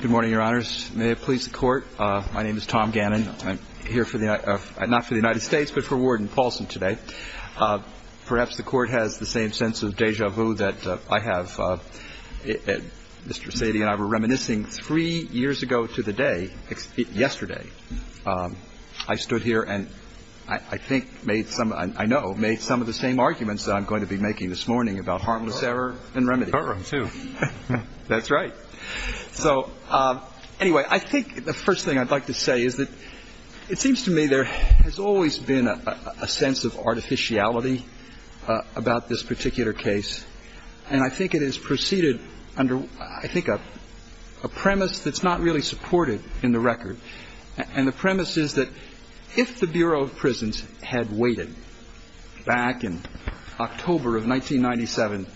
Good morning, Your Honors. May it please the Court, my name is Tom Gannon. I'm here for the United States, not for the United States, but for Warden Paulson today. Perhaps the Court has the same sense of deja vu that I have. Mr. Sadie and I were reminiscing three years ago to the day, yesterday. I stood here and I think made some, I know, made some of the same arguments that I'm going to be making this morning about harmless error and remedy. The Courtroom, too. That's right. So anyway, I think the first thing I'd like to say is that it seems to me there has always been a sense of artificiality about this particular case. And I think it has proceeded under, I think, a premise that's not really supported in the record. And the premise is that if the Bureau of Prisons had waited back in October of 1997,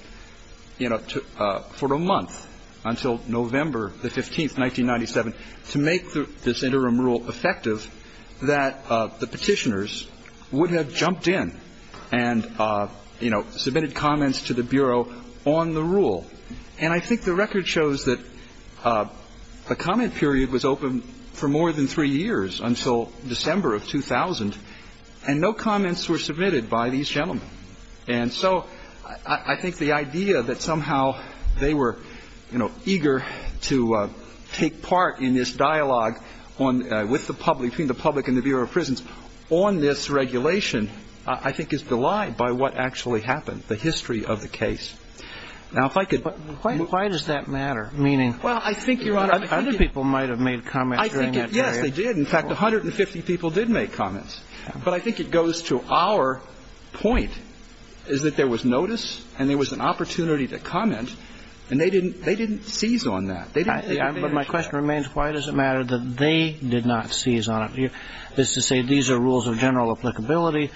you know, for a month until November the 15th, 1997, to make this interim rule effective, that the Petitioners would have jumped in and, you know, submitted comments to the Bureau on the rule. And I think the record shows that a comment period was open for more than three years until December of 2000, and no comments were submitted by these gentlemen. And so I think the idea that somehow they were, you know, eager to take part in this dialogue on, with the public, between the public and the Bureau of Prisons, on this regulation, I think is belied by what actually happened, the history of the case. Now, if I could... But why does that matter? Meaning, other people might have made comments during that period. Yes, they did. In fact, 150 people did make comments. But I think it goes to our point, is that there was notice and there was an opportunity to comment, and they didn't seize on that. But my question remains, why does it matter that they did not seize on it? That is to say, these are rules of general applicability.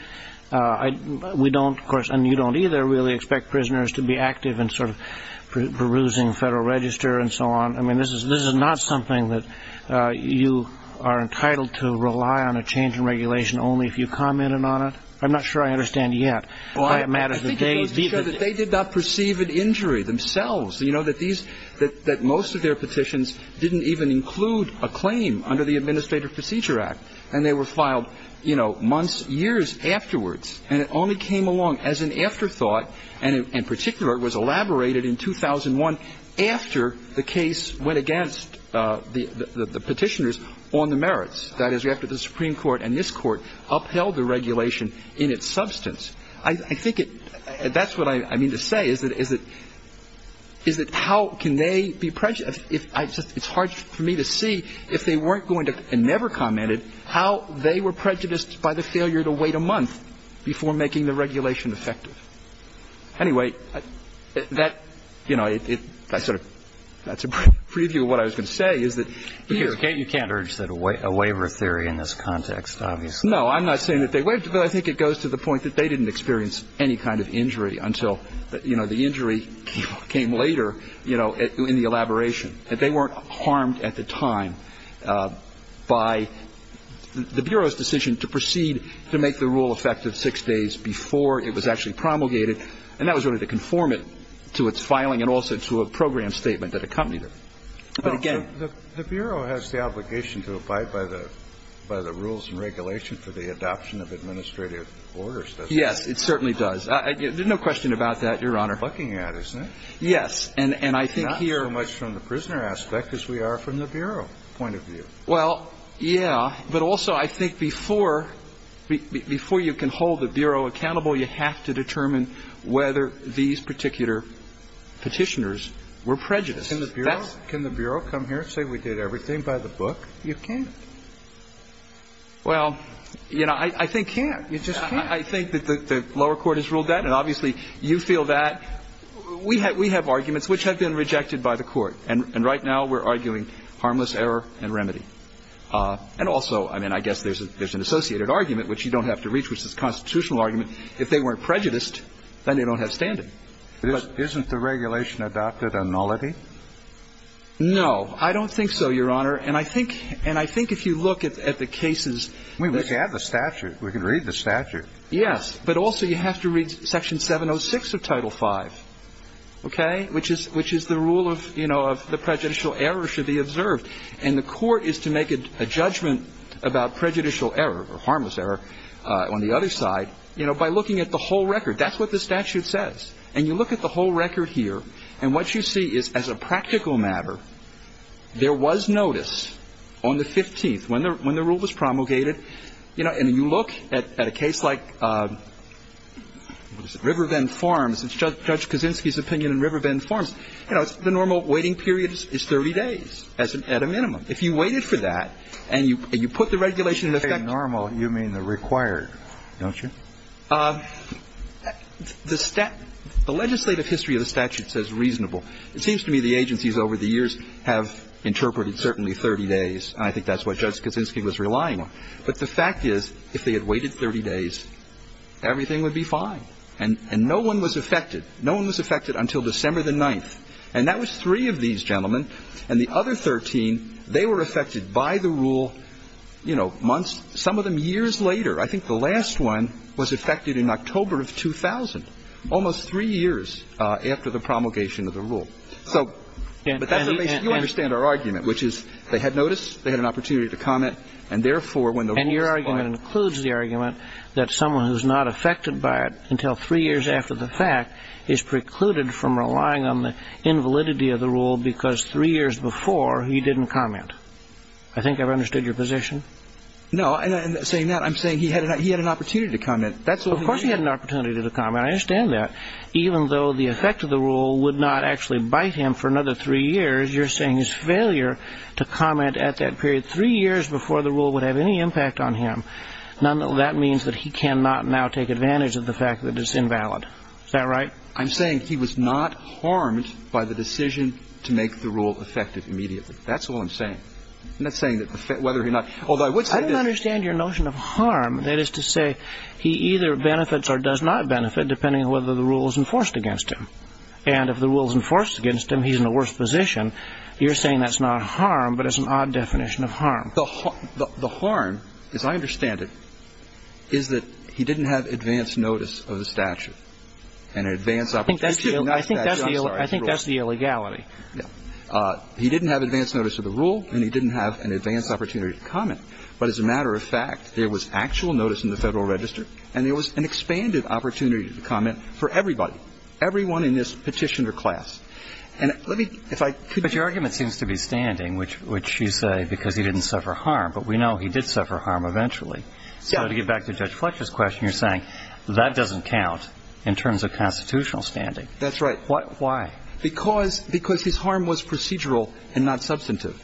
We don't, of course, and you don't either really expect prisoners to be active in sort of perusing Federal Register and so on. I mean, you are entitled to rely on a change in regulation only if you commented on it. I'm not sure I understand yet why it matters that they did not perceive an injury themselves. You know, that these, that most of their petitions didn't even include a claim under the Administrative Procedure Act, and they were filed, you know, months, years afterwards. And it only came along as an afterthought, and in particular, it was elaborated in 2001, after the case went against the Petitioners on the merits. That is, after the Supreme Court and this Court upheld the regulation in its substance. I think that's what I mean to say, is that how can they be prejudiced? It's hard for me to see if they weren't going to, and never commented, how they were prejudiced by the failure to wait a month before making the regulation effective. Anyway, that, you know, I sort of, that's a preview of what I was going to say, is that here you can't urge a waiver theory in this context, obviously. No, I'm not saying that they waived it, but I think it goes to the point that they didn't experience any kind of injury until, you know, the injury came later, you know, in the elaboration, that they weren't harmed at the time by the Bureau's decision to proceed to make the rule effective six days before it was actually promulgated. And that was really to conform it to its filing and also to a program statement that accompanied it. But again the Bureau has the obligation to abide by the, by the rules and regulation for the adoption of administrative orders, doesn't it? Yes, it certainly does. There's no question about that, Your Honor. That's what we're looking at, isn't it? Yes. And I think here Not so much from the prisoner aspect as we are from the Bureau point of view. Well, yeah. But also I think before, before you can hold the Bureau accountable, you have to determine whether these particular Petitioners were prejudiced. Can the Bureau come here and say we did everything by the book? You can't. Well, you know, I think you can't. You just can't. I think that the lower court has ruled that, and obviously you feel that. We have arguments which have been rejected by the Court. And right now we're arguing harmless error and remedy. And also, I mean, I guess there's an associated argument, which you don't have to reach, which is a constitutional argument. If they weren't prejudiced, then they don't have standing. Isn't the regulation adopted a nullity? No. I don't think so, Your Honor. And I think if you look at the cases We can have the statute. We can read the statute. Yes. But also you have to read Section 706 of Title V, okay, which is the rule of, you know, the prejudicial error should be observed. And the court is to make a judgment about prejudicial error or harmless error on the other side, you know, by looking at the whole record. That's what the statute says. And you look at the whole record here, and what you see is, as a practical matter, there was notice on the 15th, when the rule was promulgated. You know, and you look at a case like Riverbend Farms. It's Judge Kaczynski's opinion in Riverbend Farms. You know, the normal waiting period is 30 days at a minimum. If you waited for that, and you put the regulation in effect By normal, you mean the required, don't you? The legislative history of the statute says reasonable. It seems to me the agencies over the years have interpreted certainly 30 days, and I think that's what Judge Kaczynski was relying on. But the fact is, if they had waited 30 days, everything would be fine. And no one was affected. No one was affected until December the 9th. And that was three of these gentlemen. And the other 13, they were affected by the rule, you know, months, some of them years later. I think the last one was affected in October of 2000, almost three years after the promulgation of the rule. So, but that's the way you understand our argument, which is they had notice, they had an opportunity to comment, and therefore, when the rule was applied And your argument includes the argument that someone who's not affected by it until three years after the fact is precluded from relying on the invalidity of the rule because three years before, he didn't comment. I think I've understood your position. No, and saying that, I'm saying he had an opportunity to comment. Of course he had an opportunity to comment, I understand that. Even though the effect of the rule would not actually bite him for another three years, you're saying his failure to comment at that period three years before the rule would have any impact on him. None of that means that he cannot now take advantage of the fact that it's invalid. Is that right? I'm saying he was not harmed by the decision to make the rule effective immediately. That's all I'm saying. I'm not saying that whether or not, although I would say I don't understand your notion of harm. That is to say, he either benefits or does not benefit, depending on whether the rule is enforced against him. And if the rules enforced against him, he's in the worst position. You're saying that's not harm, but it's an odd definition of harm. The harm, as I understand it, is that he didn't have advanced notice of the statute and an advanced opportunity to deny that justice. I think that's the illegality. He didn't have advanced notice of the rule, and he didn't have an advanced opportunity to comment. But as a matter of fact, there was actual notice in the Federal Register, and there was an expanded opportunity to comment for everybody, everyone in this petitioner class. And let me, if I could. But your argument seems to be standing, which you say because he didn't suffer harm, but we know he did suffer harm eventually. So to get back to Judge Fletcher's question, you're saying that doesn't count in terms of constitutional standing. That's right. Why? Because his harm was procedural and not substantive.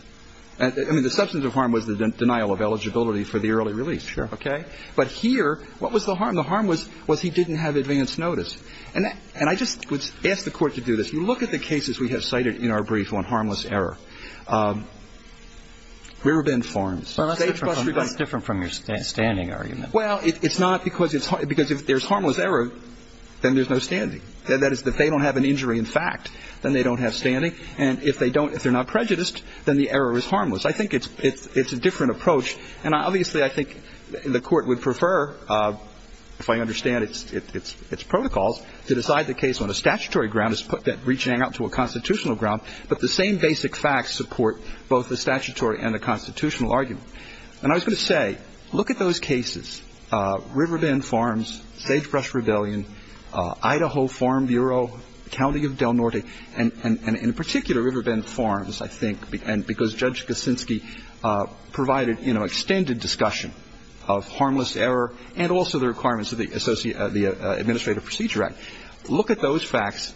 I mean, the substantive harm was the denial of eligibility for the early release. Sure. OK. But here, what was the harm? The harm was he didn't have advanced notice. And I just would ask the Court to do this. If you look at the cases we have cited in our brief on harmless error, Rearbend Farms, State v. Rebond. Well, that's different from your standing argument. Well, it's not because if there's harmless error, then there's no standing. That is, if they don't have an injury in fact, then they don't have standing. And if they don't, if they're not prejudiced, then the error is harmless. I think it's a different approach, and obviously I think the Court would prefer, if I understand its protocols, to decide the case on a statutory ground as reaching out to a constitutional ground, but the same basic facts support both the statutory and the constitutional argument. And I was going to say, look at those cases, Riverbend Farms, Sagebrush Rebellion, Idaho Farm Bureau, County of Del Norte, and in particular, Riverbend Farms, I think, because Judge Kuczynski provided, you know, extended discussion of harmless error and also the requirements of the Administrative Procedure Act. Look at those facts.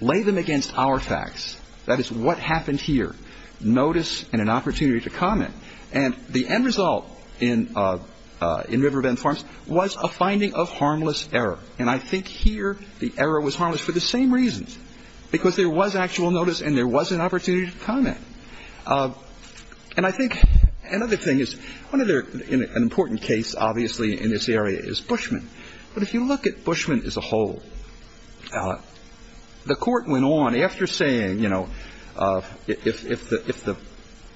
Lay them against our facts. That is what happened here, notice and an opportunity to comment. And the end result in Riverbend Farms was a finding of harmless error. And I think here the error was harmless for the same reasons, because there was actual notice and there was an opportunity to comment. And I think another thing is, one other important case, obviously, in this area is Bushman. But if you look at Bushman as a whole, the Court went on after saying, you know, if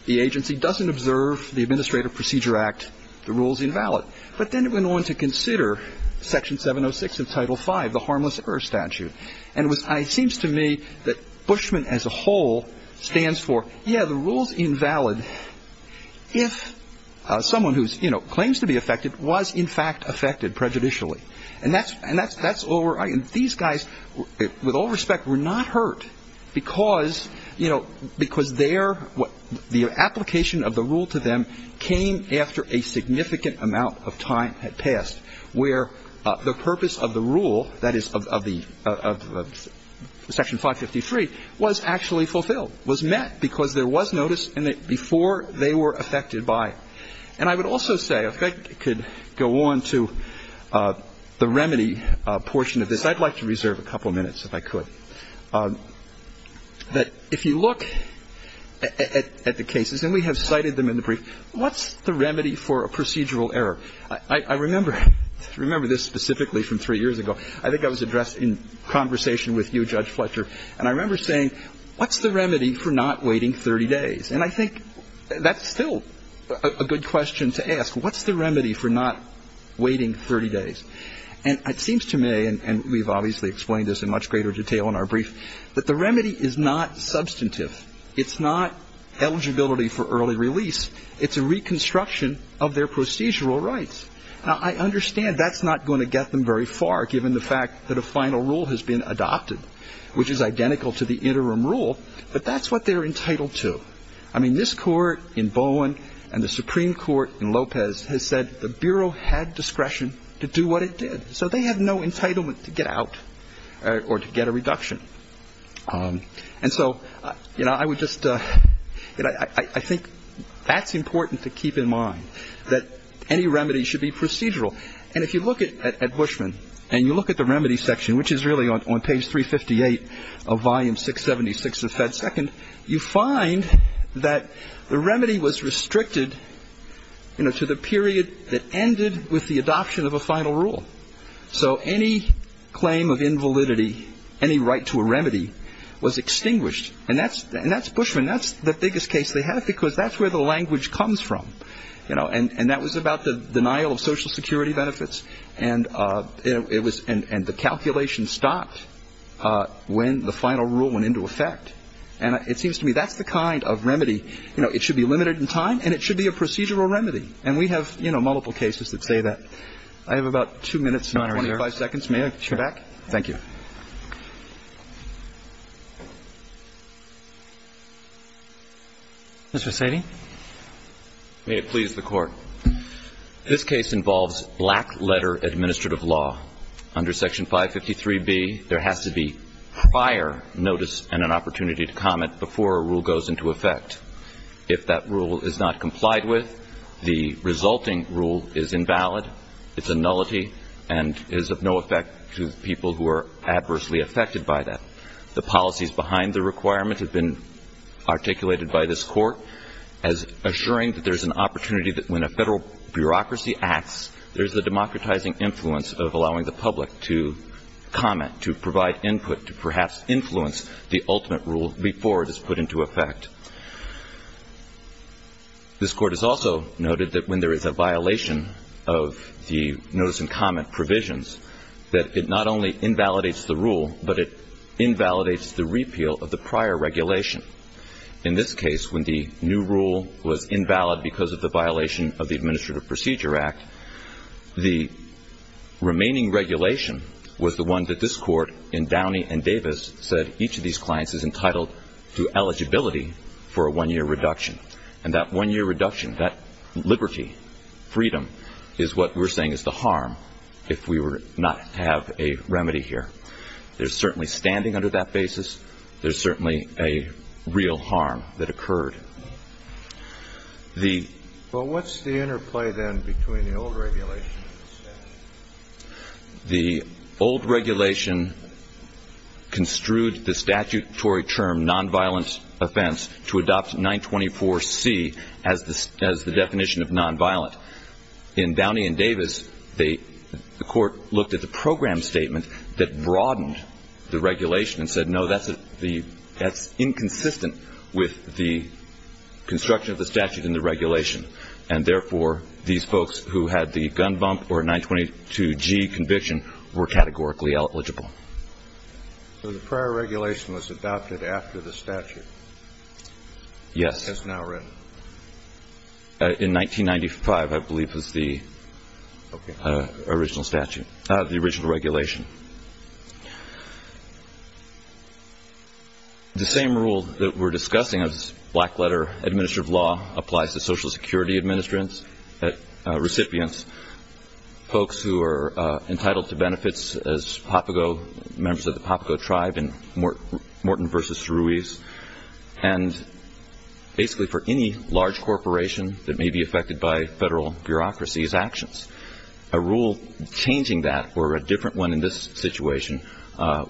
the agency doesn't observe the Administrative Procedure Act, the rule is invalid. But then it went on to consider Section 706 of Title V, the harmless error statute. And it seems to me that Bushman as a whole stands for, yeah, the rule is invalid if someone who, you know, claims to be affected was, in fact, affected prejudicially. And these guys, with all respect, were not hurt because, you know, because the application of the rule to them came after a significant amount of time had passed where the purpose of the rule, that is, of the Section 553, was actually fulfilled, was met because there was notice before they were affected by it. And I would also say, if I could go on to the remedy portion of this, I'd like to reserve a couple minutes if I could, that if you look at the cases, and we have cited them in the brief, what's the remedy for a procedural error? I remember this specifically from three years ago. I think I was addressed in conversation with you, Judge Fletcher, and I remember saying, what's the remedy for not waiting 30 days? And I think that's still a good question to ask. What's the remedy for not waiting 30 days? And it seems to me, and we've obviously explained this in much greater detail in our brief, that the remedy is not substantive. It's not eligibility for early release. It's a reconstruction of their procedural rights. Now, I understand that's not going to get them very far, given the fact that a final rule has been adopted, which is identical to the interim rule, but that's what they're entitled to. I mean, this Court in Bowen and the Supreme Court in Lopez has said the Bureau had discretion to do what it did, so they have no entitlement to get out or to get a reduction. And so, you know, I would just, you know, I think that's important to keep in mind, that any remedy should be procedural. And if you look at Bushman, and you look at the remedy section, which is really on page 358 of volume 676 of Fed Second, you find that the remedy was restricted, you know, to the period that ended with the adoption of a final rule. So any claim of invalidity, any right to a remedy, was extinguished. And that's Bushman. That's the biggest case they have, because that's where the language comes from. You know, and that was about the denial of Social Security benefits. And it was, and the calculation stopped when the final rule went into effect. And it seems to me that's the kind of remedy, you know, it should be limited in time, and it should be a procedural remedy. And we have, you know, multiple cases that say that. I have about 2 minutes and 25 seconds. May I get you back? Thank you. Mr. Sating. May it please the Court. This case involves black letter administrative law. Under section 553B, there has to be prior notice and an opportunity to comment before a rule goes into effect. If that rule is not complied with, the resulting rule is invalid, it's a nullity, and is of no effect to people who are adversely affected by that. The policies behind the requirement have been articulated by this court as assuring that there's an opportunity that when a federal bureaucracy acts, there's a democratizing influence of allowing the public to comment, to provide input, to perhaps influence the ultimate rule before it is put into effect. This court has also noted that when there is a violation of the notice and comment provisions, that it not only invalidates the rule, but it invalidates the repeal of the prior regulation. In this case, when the new rule was invalid because of the violation of the Administrative Procedure Act, the remaining regulation was the one that this court in Downey and Davis said, each of these clients is entitled to eligibility for a one-year reduction. And that one-year reduction, that liberty, freedom, is what we're saying is the harm if we were not to have a remedy here. There's certainly standing under that basis. There's certainly a real harm that occurred. Well, what's the interplay then between the old regulation and the statute? The old regulation construed the statutory term nonviolent offense to adopt 924C as the definition of nonviolent. In Downey and Davis, the court looked at the program statement that broadened the regulation and said, no, that's inconsistent with the construction of the statute and the regulation. And therefore, these folks who had the gun bump or 922G conviction were categorically eligible. So the prior regulation was adopted after the statute? Yes. As now written? In 1995, I believe, was the original statute, the original regulation. The same rule that we're discussing of this black letter, administrative law, applies to Social Security recipients, folks who are entitled to benefits as PAPAGO, members of the PAPAGO tribe in Morton v. Ruiz, and basically for any large corporation that may be affected by federal bureaucracy's actions. A rule changing that or a different one in this situation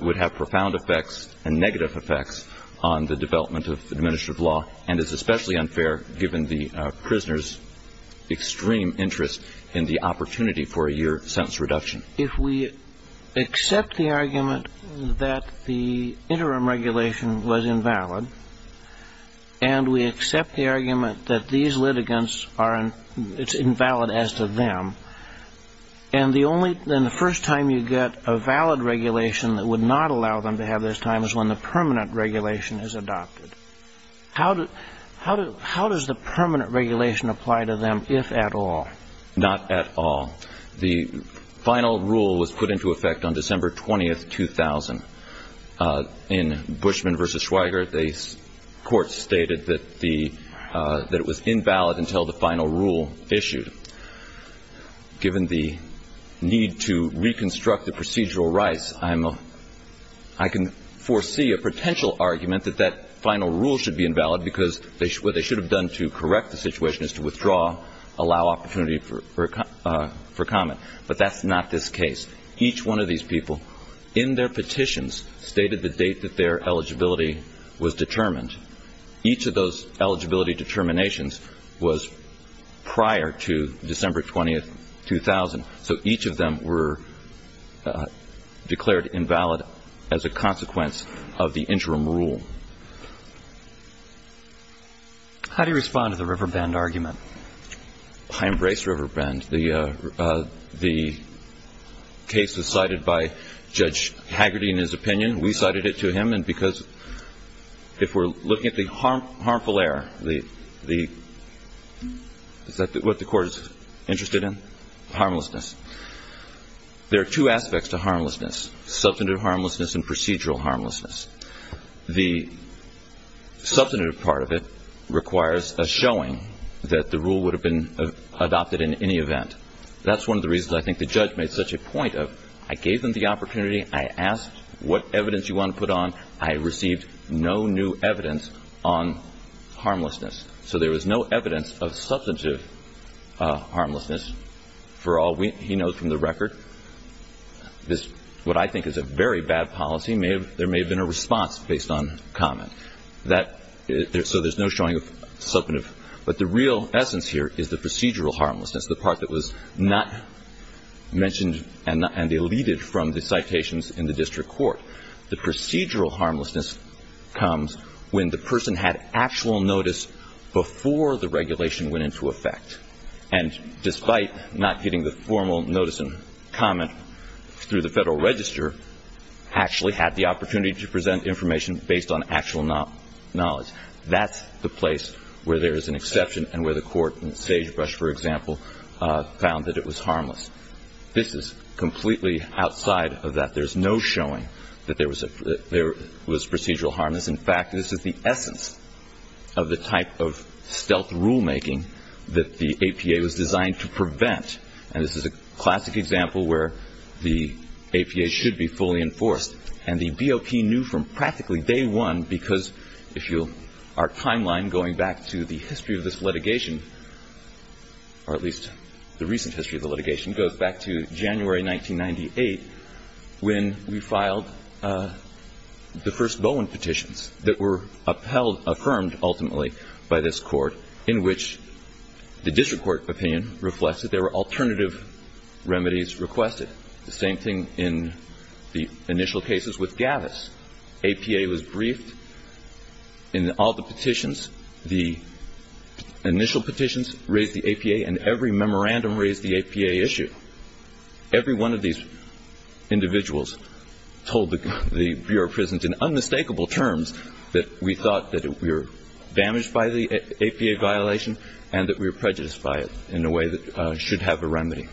would have profound effects and negative effects on the development of administrative law and is especially unfair given the prisoner's extreme interest in the opportunity for a year sentence reduction. If we accept the argument that the interim regulation was invalid and we accept the argument that these litigants are invalid as to them, then the first time you get a valid regulation that would not allow them to have this time is when the permanent regulation is adopted. How does the permanent regulation apply to them, if at all? Not at all. The final rule was put into effect on December 20, 2000. In Bushman v. Schweiger, the court stated that it was invalid until the final rule issued. Given the need to reconstruct the procedural rights, I can foresee a potential argument that that final rule should be invalid because what they should have done to correct the situation is to withdraw, allow opportunity for comment. But that's not this case. Each one of these people in their petitions stated the date that their eligibility was determined. Each of those eligibility determinations was prior to December 20, 2000, so each of them were declared invalid as a consequence of the interim rule. How do you respond to the Riverbend argument? I embrace Riverbend. The case was cited by Judge Haggerty in his opinion. We cited it to him, and because if we're looking at the harmful error, the – is that what the court is interested in? Harmlessness. There are two aspects to harmlessness, substantive harmlessness and procedural harmlessness. The substantive part of it requires a showing that the rule would have been adopted in any event. That's one of the reasons I think the judge made such a point of I gave them the opportunity, I asked what evidence you want to put on, I received no new evidence on harmlessness. So there was no evidence of substantive harmlessness for all we – he knows from the record. What I think is a very bad policy, there may have been a response based on comment. So there's no showing of substantive – but the real essence here is the procedural harmlessness, the part that was not mentioned and deleted from the citations in the district court. The procedural harmlessness comes when the person had actual notice before the regulation went into effect, and despite not getting the formal notice and comment through the Federal Register, actually had the opportunity to present information based on actual knowledge. That's the place where there is an exception and where the court in Sagebrush, for example, found that it was harmless. This is completely outside of that. There's no showing that there was procedural harmlessness. In fact, this is the essence of the type of stealth rulemaking that the APA was designed to prevent, and this is a classic example where the APA should be fully enforced. And the BOP knew from practically day one, because if you – our timeline going back to the history of this litigation, or at least the recent history of the litigation, goes back to January 1998, when we filed the first Bowen petitions that were upheld – affirmed ultimately by this court, in which the district court opinion reflects that there were alternative remedies requested. The same thing in the initial cases with Gavis. APA was briefed in all the petitions. The initial petitions raised the APA, and every memorandum raised the APA issue. Every one of these individuals told the Bureau of Prisons in unmistakable terms that we thought that we were damaged by the APA violation and that we were prejudiced by it in a way that should have a remedy.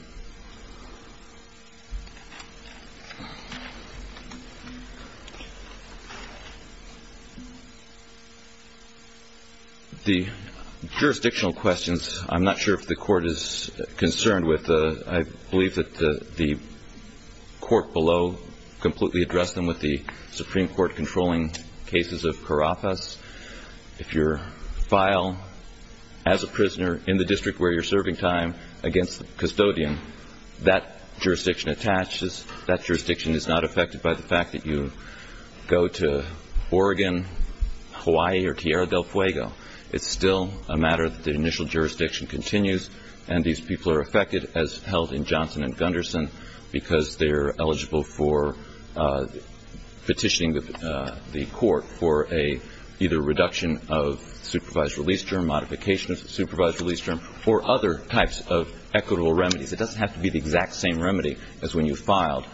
The jurisdictional questions, I'm not sure if the court is concerned with. I believe that the court below completely addressed them with the Supreme Court controlling cases of Carapas. If you file as a prisoner in the district where you're serving time against the custodian, that jurisdiction attaches, that jurisdiction is not affected by the fact that you go to Oregon, Hawaii, or Tierra del Fuego. It's still a matter that the initial jurisdiction continues, and these people are affected as held in Johnson and Gunderson because they're eligible for petitioning the court for either a reduction of supervised release term, modification of supervised release term, or other types of equitable remedies. It doesn't have to be the exact same remedy as when you filed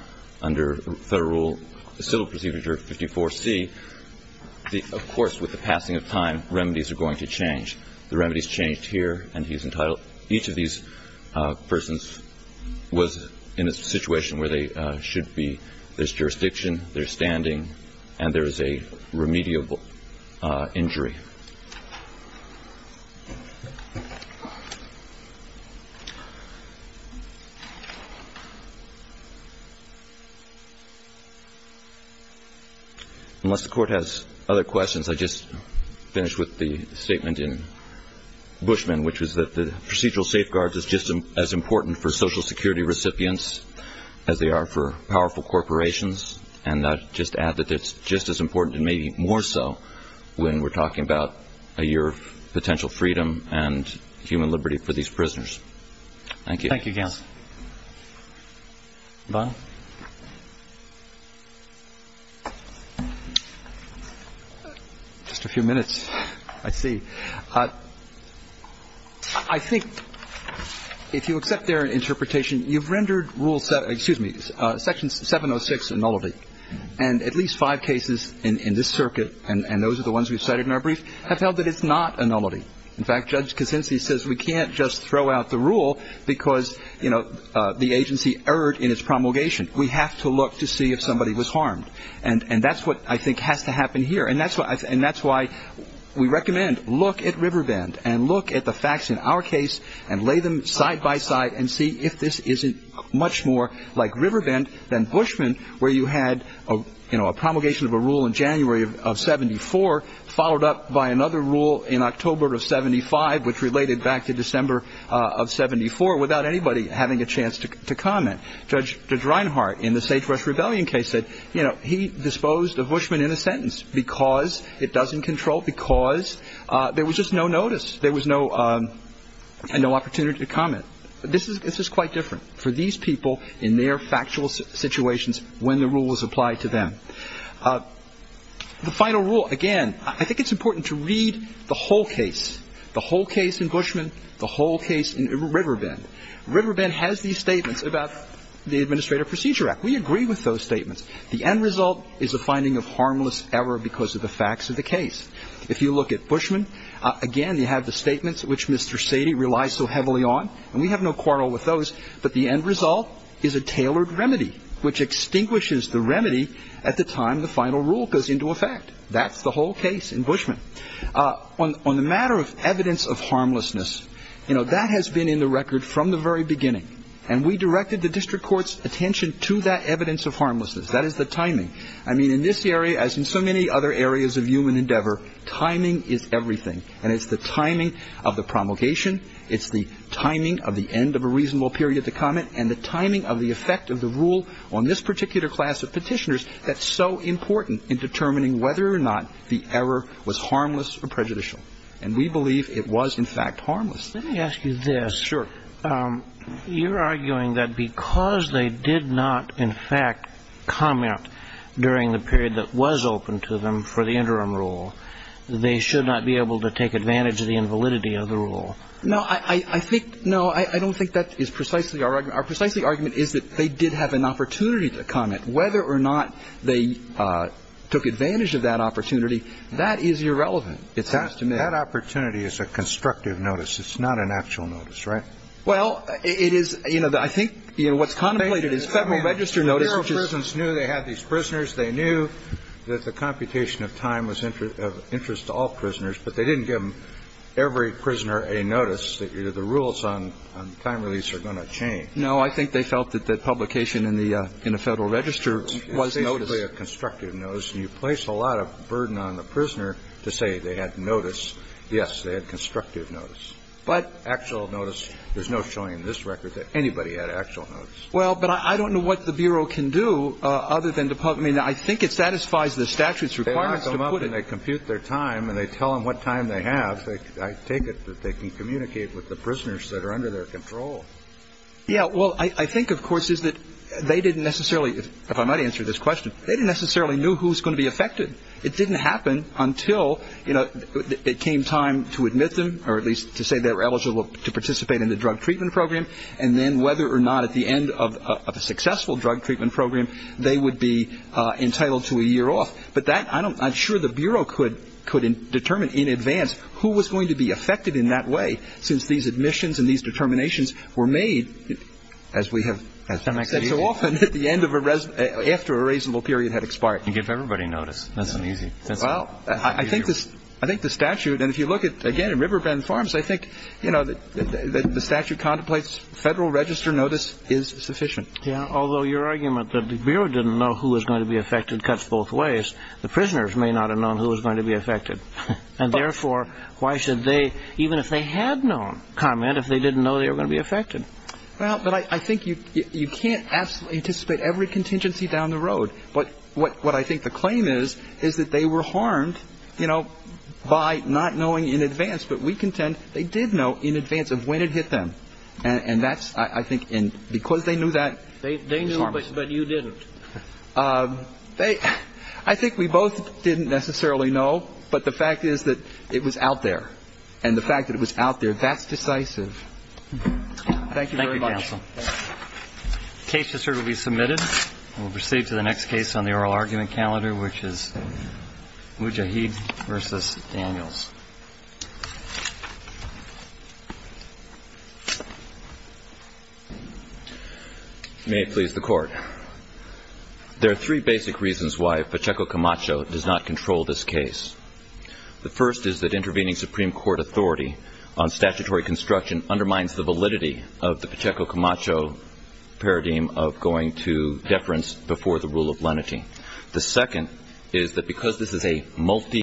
under Federal Rule, the Civil Procedure 54C. Of course, with the passing of time, remedies are going to change. The remedies changed here, and he's entitled each of these persons was in a situation where they should be. There's jurisdiction, there's standing, and there is a remediable injury. Unless the court has other questions, I'll just finish with the statement in Bushman, which was that the procedural safeguards is just as important for Social Security recipients as they are for powerful corporations. And I'll just add that it's just as important, and maybe more so, when we're talking about a year of potential freedom and human liberty for these prisoners. Thank you. Thank you, counsel. Vaughn? Just a few minutes. I see. I think if you accept their interpretation, you've rendered Rule 706, excuse me, Section 706 a nullity. And at least five cases in this circuit, and those are the ones we've cited in our brief, have held that it's not a nullity. In fact, Judge Kuczynski says we can't just throw out the rule because, you know, the agency erred in its promulgation. We have to look to see if somebody was harmed. And that's what I think has to happen here. And that's why we recommend look at Riverbend and look at the facts in our case and lay them side by side and see if this isn't much more like Riverbend than Bushman, where you had, you know, a promulgation of a rule in January of 74, followed up by another rule in October of 75, which related back to December of 74, without anybody having a chance to comment. Judge Reinhart in the Sagebrush Rebellion case said, you know, he disposed of Bushman in a sentence because it doesn't control, because there was just no notice. There was no opportunity to comment. This is quite different for these people in their factual situations when the rule was applied to them. The final rule, again, I think it's important to read the whole case, the whole case in Bushman, the whole case in Riverbend. Riverbend has these statements about the Administrative Procedure Act. We agree with those statements. The end result is a finding of harmless error because of the facts of the case. If you look at Bushman, again, you have the statements which Mr. Sady relies so heavily on, and we have no quarrel with those, but the end result is a tailored remedy, which extinguishes the remedy at the time the final rule goes into effect. That's the whole case in Bushman. On the matter of evidence of harmlessness, you know, that has been in the record from the very beginning, and we directed the district court's attention to that evidence of harmlessness. That is the timing. I mean, in this area, as in so many other areas of human endeavor, timing is everything, and it's the timing of the promulgation, it's the timing of the end of a reasonable period to comment, and the timing of the effect of the rule on this particular class of petitioners that's so important in determining whether or not the error was harmless or prejudicial. And we believe it was, in fact, harmless. Let me ask you this. Sure. You're arguing that because they did not, in fact, comment during the period that was open to them for the interim rule, they should not be able to take advantage of the invalidity of the rule. No, I think no, I don't think that is precisely our argument. Our precisely argument is that they did have an opportunity to comment. Whether or not they took advantage of that opportunity, that is irrelevant, it seems to me. That opportunity is a constructive notice. It's not an actual notice, right? Well, it is. You know, I think what's contemplated is Federal Register notice, which is. The Bureau of Prisons knew they had these prisoners. They knew that the computation of time was of interest to all prisoners, but they didn't give every prisoner a notice that the rules on time release are going to change. No, I think they felt that the publication in the Federal Register was notice. It's basically a constructive notice, and you place a lot of burden on the prisoner to say they had notice. Yes, they had constructive notice. But. Actual notice. There's no showing in this record that anybody had actual notice. Well, but I don't know what the Bureau can do other than to publish. I mean, I think it satisfies the statute's requirements to put it. They lock them up and they compute their time and they tell them what time they have. I take it that they can communicate with the prisoners that are under their control. Yeah, well, I think, of course, is that they didn't necessarily, if I might answer this question, they didn't necessarily know who was going to be affected. It didn't happen until, you know, it came time to admit them, or at least to say they were eligible to participate in the drug treatment program, and then whether or not at the end of a successful drug treatment program, they would be entitled to a year off. But that, I'm sure the Bureau could determine in advance who was going to be affected in that way, since these admissions and these determinations were made as we have said so often after a reasonable period had expired. You give everybody notice. That's not easy. Well, I think the statute, and if you look at, again, Riverbend Farms, I think, you know, the statute contemplates Federal Register notice is sufficient. Yeah, although your argument that the Bureau didn't know who was going to be affected cuts both ways. The prisoners may not have known who was going to be affected. And, therefore, why should they, even if they had known, comment if they didn't know they were going to be affected? Well, but I think you can't absolutely anticipate every contingency down the road. But what I think the claim is, is that they were harmed, you know, by not knowing in advance. But we contend they did know in advance of when it hit them. And that's, I think, because they knew that. They knew, but you didn't. I think we both didn't necessarily know. But the fact is that it was out there. And the fact that it was out there, that's decisive. Thank you very much. Thank you, counsel. The case, Mr. Stewart, will be submitted. We'll proceed to the next case on the oral argument calendar, which is Mujahid v. Daniels. May it please the Court. There are three basic reasons why Pacheco Camacho does not control this case. The first is that intervening Supreme Court authority on statutory construction undermines the validity of the Pacheco Camacho paradigm of going to deference before the rule of lenity. The second is that because this is a multi-judicial case,